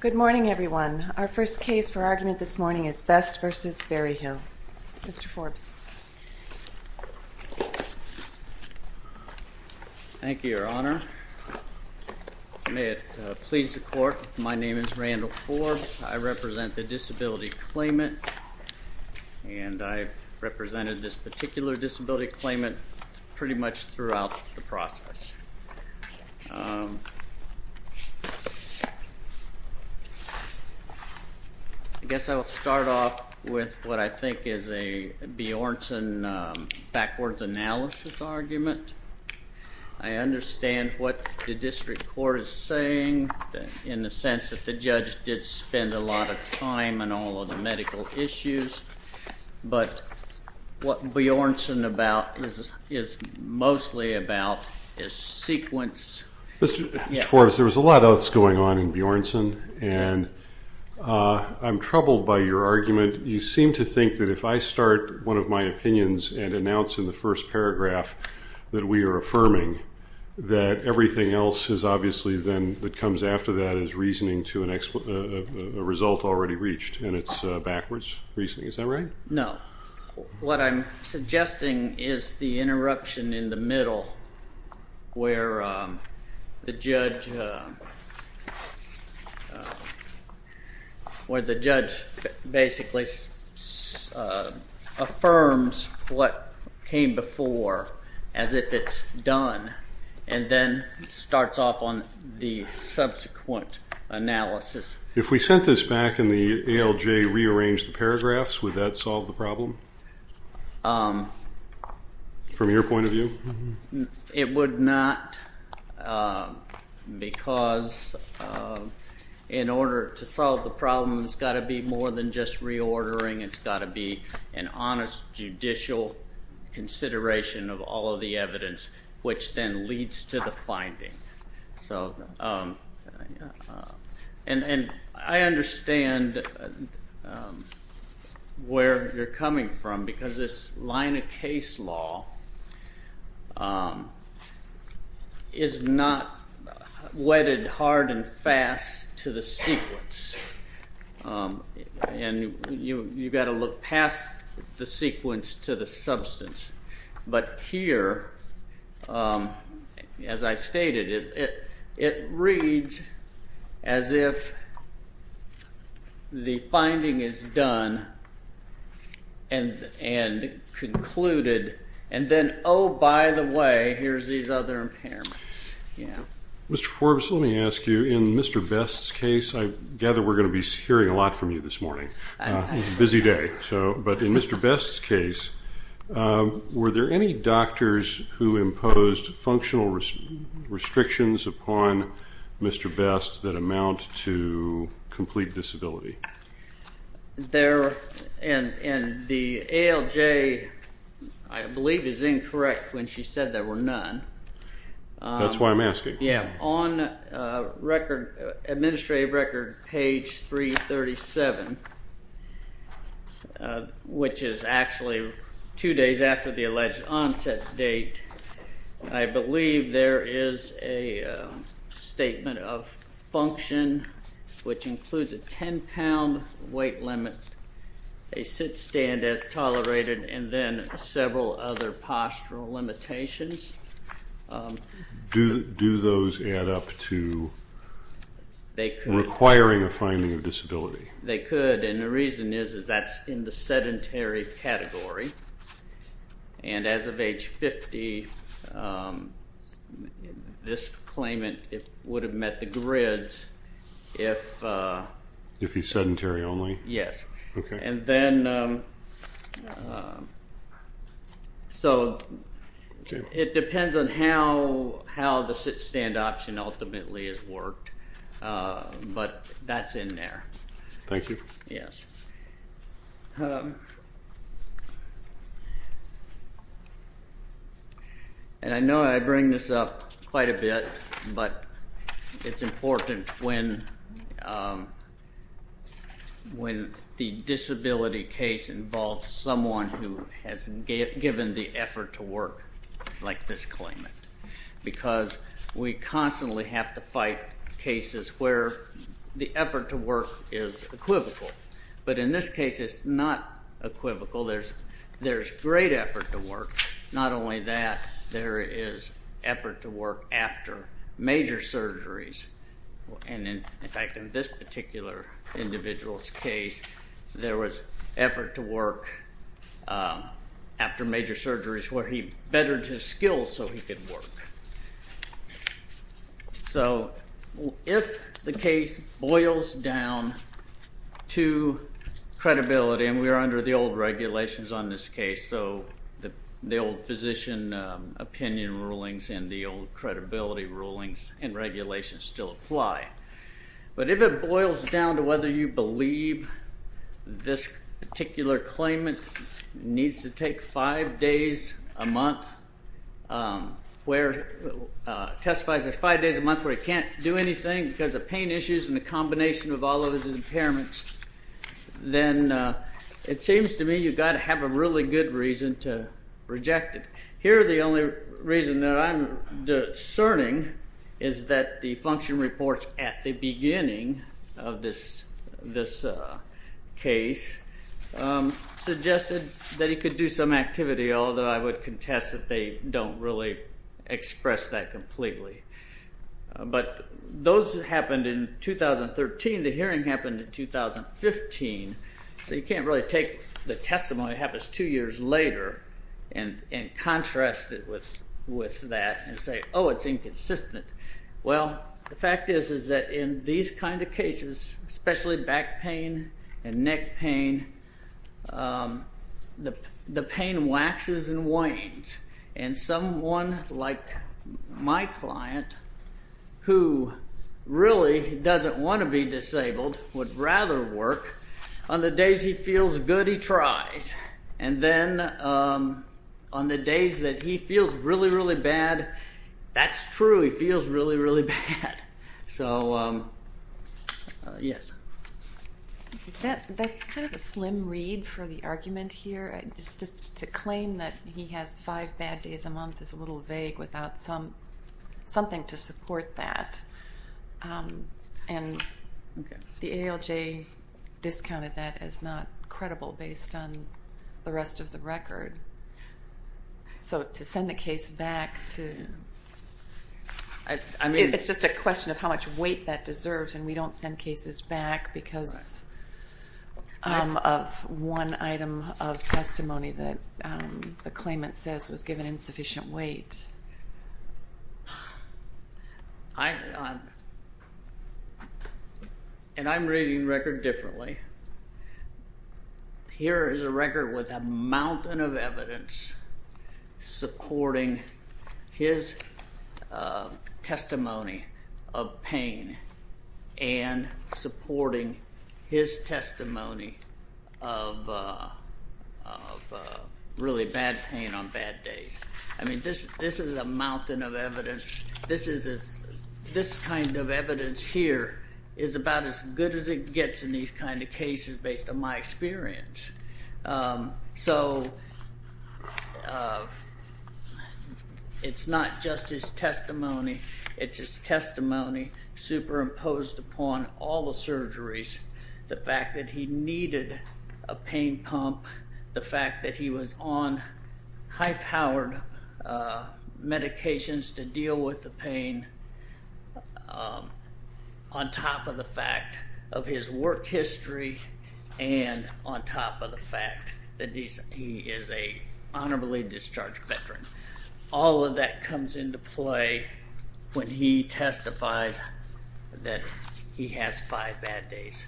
Good morning everyone. Our first case for argument this morning is Best v. Berryhill. Mr. Forbes. Thank you, Your Honor. May it please the Court, my name is Randall Forbes. I represent the disability claimant and I represented this particular disability claimant pretty much throughout the process. I guess I will start off with what I think is a Bjornsson backwards analysis argument. I understand what the district court is saying in the sense that the judge did not spend a lot of time on all of the medical issues, but what Bjornsson is mostly about is sequence. Mr. Forbes, there was a lot else going on in Bjornsson and I'm troubled by your argument. You seem to think that if I start one of my opinions and announce in the first paragraph that we are affirming, that everything else is obviously then that comes after that as reasoning to a result already reached and it's backwards reasoning. Is that right? No. What I'm suggesting is the interruption in the middle where the judge basically affirms what came before as if it's done and then starts off on the subsequent analysis. If we sent this back and the ALJ rearranged the paragraphs, would that solve the problem from your point of view? It would not because in order to solve the problem, it's got to be more than just reordering. It's got to be an honest judicial consideration of all of the evidence, which then leads to the finding. I understand where you're coming from because this line of case law is not wedded hard and fast to the sequence. You've got to look past the sequence to the substance, but here, as I stated, it reads as if the finding is done and concluded and then, oh, by the way, here's these other impairments. Mr. Forbes, let me ask you, in Mr. Best's case, I gather we're going to be hearing a lot from you this morning. It's a busy day. In Mr. Best's case, were there any doctors who imposed functional restrictions upon Mr. Best that amount to complete disability? The ALJ, I believe, is incorrect when she said there were none. That's why I'm asking. On administrative record page 337, which is actually two days after the alleged onset date, I believe there is a statement of function which includes a 10-pound weight limit, a sit-stand as tolerated, and then several other postural limitations. Do those add up to requiring a finding of disability? They could, and the reason is that's in the sedentary category, and as of age 50, this claimant would have met the grids if... If he's sedentary only? Yes, and then, so it depends on how the sit-stand option ultimately is worked, but that's in there. Thank you. Yes, and I know I bring this up quite a It's important when the disability case involves someone who has given the effort to work like this claimant, because we constantly have to fight cases where the effort to work is equivocal, but in this case, it's not equivocal. There's great effort to work. Not only that, there is effort to And in fact, in this particular individual's case, there was effort to work after major surgeries where he bettered his skills so he could work. So if the case boils down to credibility, and we are under the old regulations on this case, so the old physician opinion rulings and the old credibility rulings and regulations still apply, but if it boils down to whether you believe this particular claimant needs to take five days a month where... Testifies there are five days a month where he can't do anything because of pain issues and the combination of all of his impairments, then it seems to me you've got to have a really good reason to reject it. Here, the only reason that I'm discerning is that the function reports at the beginning of this case suggested that he could do some activity, although I would contest that they don't really express that completely. But those happened in 2013, the hearing happened in 2015, so you can't really take the testimony that happens two years later and contrast it with that and say, oh, it's inconsistent. Well, the fact is that in these kinds of cases, especially back pain and neck pain, the pain waxes and wanes. And someone like my client, who really doesn't want to be disabled, would rather work on the days he feels good, he tries. And then on the days that he feels really, really bad, that's true, he feels really, really bad. So yes. That's kind of a slim read for the argument here. Just to claim that he has five bad days a month is a little vague without something to support that. And the ALJ discounted that as not credible based on the rest of the record. So to send the case back to... It's just a question of how much weight that deserves, and we don't send cases back because of one item of testimony that the claimant says was given insufficient weight. And I'm reading the record differently. Here is a record with a mountain of evidence supporting his testimony of pain and supporting his testimony of really bad pain on I mean, this is a mountain of evidence. This kind of evidence here is about as good as it gets in these kinds of cases based on my experience. So it's not just his testimony, it's his testimony superimposed upon all the surgeries, the fact that he needed a pain pump, the fact that he was on high-powered medications to deal with the pain on top of the fact of his work history and on top of the fact that he is a honorably discharged veteran. All of that comes into play when he testifies that he has five bad days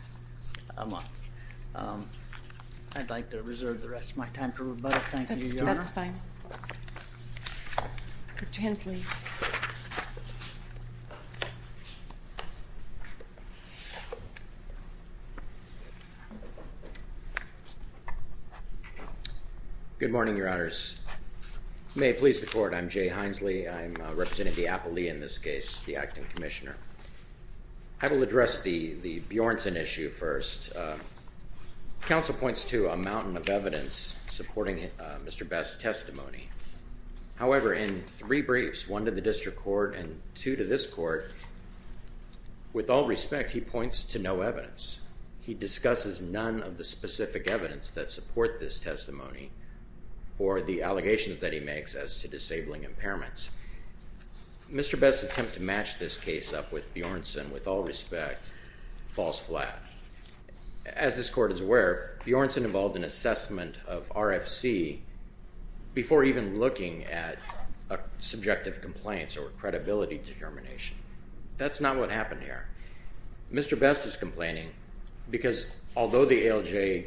a month. I'd like to reserve the rest of my time for rebuttal. Thank you, Your Honor. That's fine. Mr. Hensley. Good morning, Your Honors. May it please the Court, I'm Jay Hensley. I'm representing the Counsel points to a mountain of evidence supporting Mr. Best's testimony. However, in three briefs, one to the District Court and two to this Court, with all respect, he points to no evidence. He discusses none of the specific evidence that support this testimony or the allegations that he makes as to disabling impairments. Mr. Best's attempt to match this up with Bjornsson, with all respect, falls flat. As this Court is aware, Bjornsson involved an assessment of RFC before even looking at a subjective complaint or credibility determination. That's not what happened here. Mr. Best is complaining because although the ALJ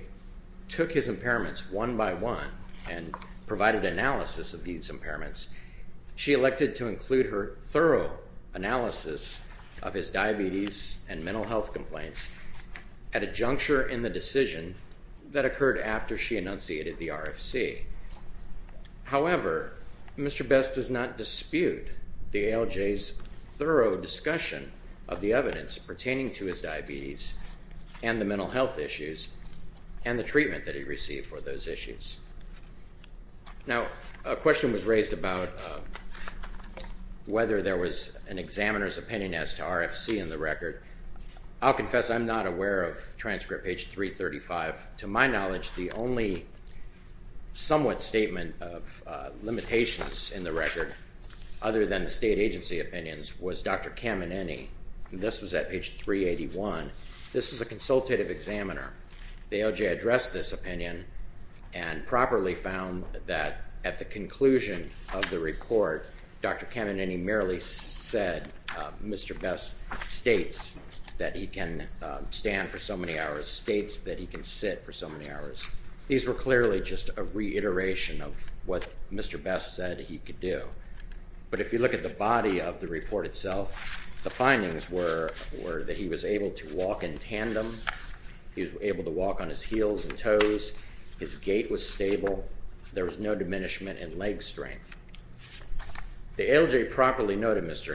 took his impairments one by one and provided analysis of these impairments, she elected to include her analysis of his diabetes and mental health complaints at a juncture in the decision that occurred after she enunciated the RFC. However, Mr. Best does not dispute the ALJ's thorough discussion of the evidence pertaining to his diabetes and the mental health issues and the treatment that he received for those issues. Now, a question was raised about whether there was an examiner's opinion as to RFC in the record. I'll confess I'm not aware of transcript page 335. To my knowledge, the only somewhat statement of limitations in the record, other than the state agency opinions, was Dr. Kamineni. This was at page 381. This was a consultative examiner. The ALJ addressed this opinion and properly found that at the conclusion of the report, Dr. Kamineni merely said, Mr. Best states that he can stand for so many hours, states that he can sit for so many hours. These were clearly just a reiteration of what Mr. Best said he could do. But if you look at the body of the report itself, the findings were that he was able to walk in tandem, he was able to walk on his heels and toes, his gait was stable, there was no diminishment in leg strength. The ALJ properly noted Mr.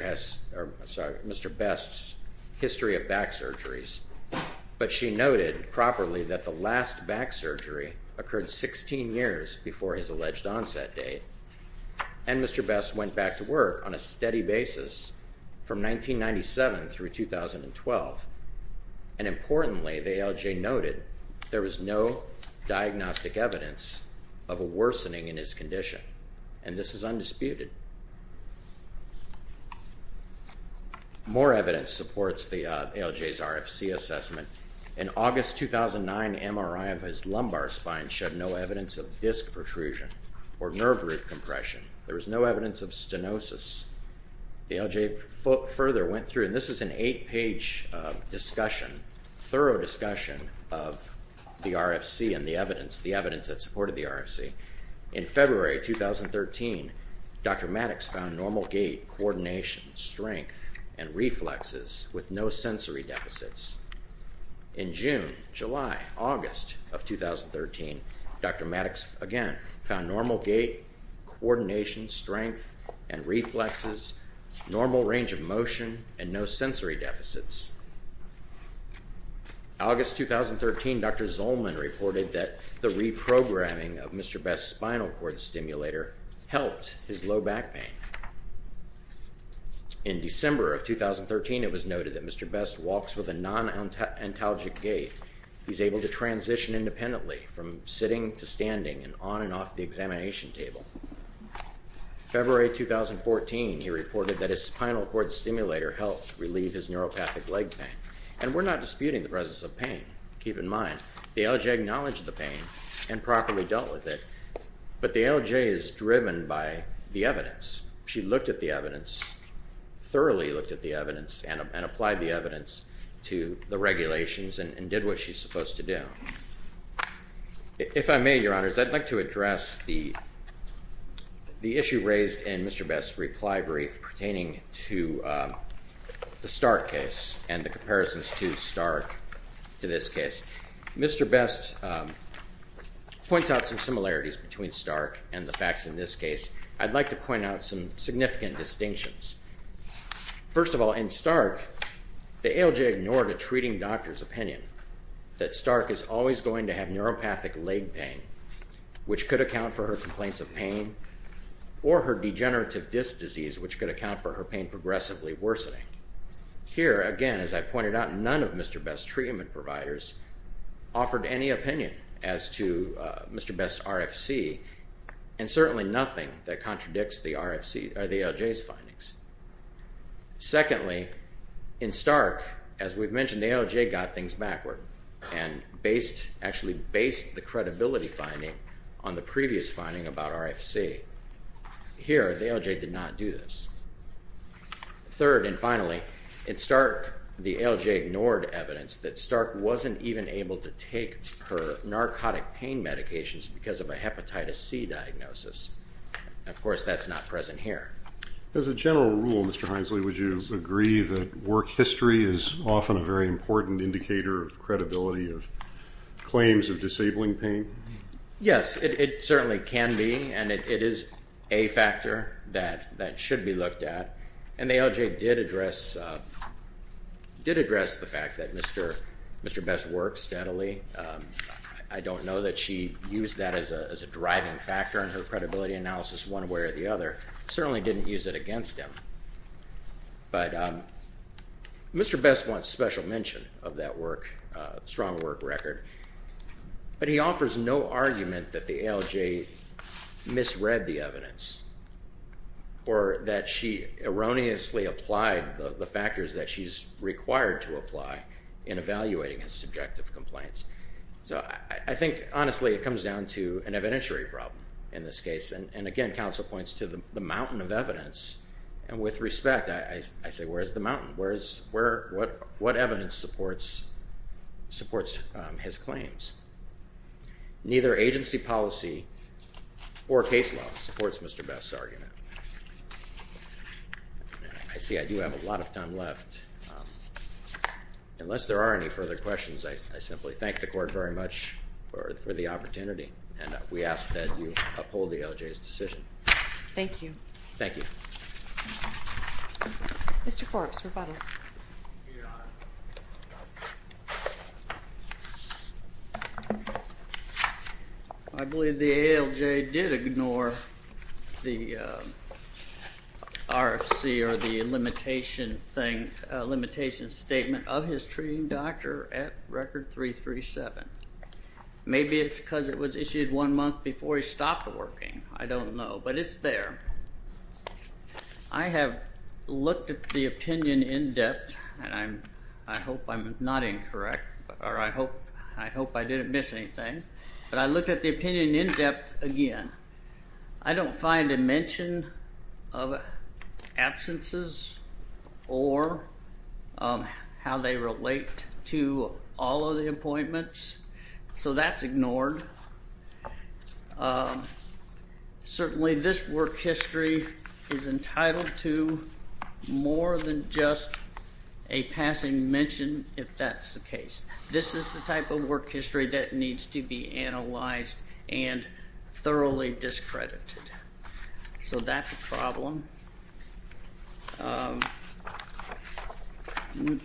Best's history of back surgeries, but she noted properly that the last back surgery occurred 16 years before his alleged onset date. And Mr. Best went back to work on a steady basis from 1997 through 2012. And importantly, the ALJ noted there was no diagnostic evidence of a worsening in his condition. And this is undisputed. More evidence supports the ALJ's RFC assessment. In August 2009, MRI of his lumbar spine showed no evidence of disc protrusion or nerve root compression. There was no evidence of stenosis. The ALJ further went through, and this is an eight-page discussion, thorough discussion of the RFC and the evidence that supported the RFC. In February 2013, Dr. Maddox found normal gait, coordination, strength, and reflexes with no sensory deficits. In June, July, August of 2013, Dr. Maddox again found normal gait, coordination, strength, and reflexes, normal range of motion, and no sensory deficits. August 2013, Dr. Zolman reported that the reprogramming of Mr. Best's spinal cord stimulator helped his low back pain. In December of 2013, it was noted that Mr. Best walks with a non-ontalgic gait. He's able to transition independently from sitting to standing and on and off the examination table. February 2014, he reported that his spinal cord stimulator helped relieve his neuropathic leg pain. And we're not disputing the presence of pain. Keep in mind, the ALJ acknowledged the pain and properly dealt with it, but the ALJ is driven by the evidence. She looked at the evidence, thoroughly looked at the evidence, and applied the evidence to the regulations and did what she's supposed to do. If I may, Your Honors, I'd like to address the issue raised in Mr. Best's reply brief pertaining to the Stark case and the comparisons to Stark to this case. Mr. Best points out some similarities between Stark and the facts in this case. I'd like to point out some significant distinctions. First of all, in Stark, the ALJ ignored a treating doctor's opinion that Stark is always going to have neuropathic leg pain, which could account for her complaints of pain, or her degenerative disc disease, which could account for her pain progressively worsening. Here, again, as I pointed out, none of Mr. Best's that contradicts the ALJ's findings. Secondly, in Stark, as we've mentioned, the ALJ got things backward and actually based the credibility finding on the previous finding about RFC. Here, the ALJ did not do this. Third and finally, in Stark, the ALJ ignored evidence that Stark wasn't even able to take her narcotic pain medications because of a hepatitis C diagnosis. Of course, that's not present here. As a general rule, Mr. Hinesley, would you agree that work history is often a very important indicator of credibility of claims of disabling pain? Yes, it certainly can be, and it is a factor that should be looked at. And the ALJ did address the fact that Mr. Best works steadily. I don't know that she used that as a driving factor in her credibility analysis one way or the other. Certainly didn't use it against him, but Mr. Best wants special mention of that work, strong work record, but he offers no argument that the ALJ misread the evidence or that she erroneously applied the factors that she's required to apply in evaluating his subjective complaints. So I think, honestly, it comes down to an evidentiary problem in this case. And again, counsel points to the mountain of evidence, and with respect, I say, where's the mountain? What evidence supports his claims? Neither agency policy or case law supports Mr. Best's argument. I see I do have a lot of time left. Unless there are any further questions, I simply thank the court very much for the opportunity, and we ask that you uphold the ALJ's decision. Thank you. Thank you. Mr. Forbes, rebuttal. I believe the ALJ did ignore the RFC or the limitation statement of his treating doctor at record 337. Maybe it's because it was issued one month before he stopped working. I don't know, but it's there. I have looked at the opinion in depth, and I hope I'm not incorrect, or I hope I didn't miss anything, but I looked at the opinion in depth again. I don't find a mention of absences or how they relate to all of the appointments, so that's ignored. Certainly, this work history is entitled to more than just a passing mention, if that's the case. This is the type of work history that needs to be analyzed and thoroughly discredited, so that's a problem.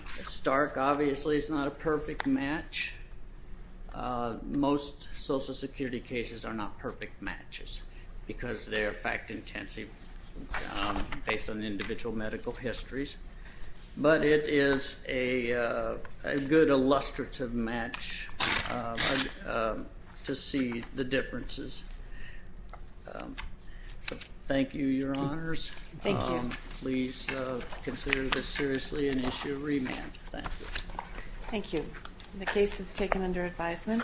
Stark, obviously, is not a perfect match. Most Social Security cases are not perfect matches because they are fact-intensive based on individual medical histories, but it is a good illustrative match to see the differences. Thank you, Your Honors. Please consider this seriously and issue a remand. Thank you. The case is taken under advisement.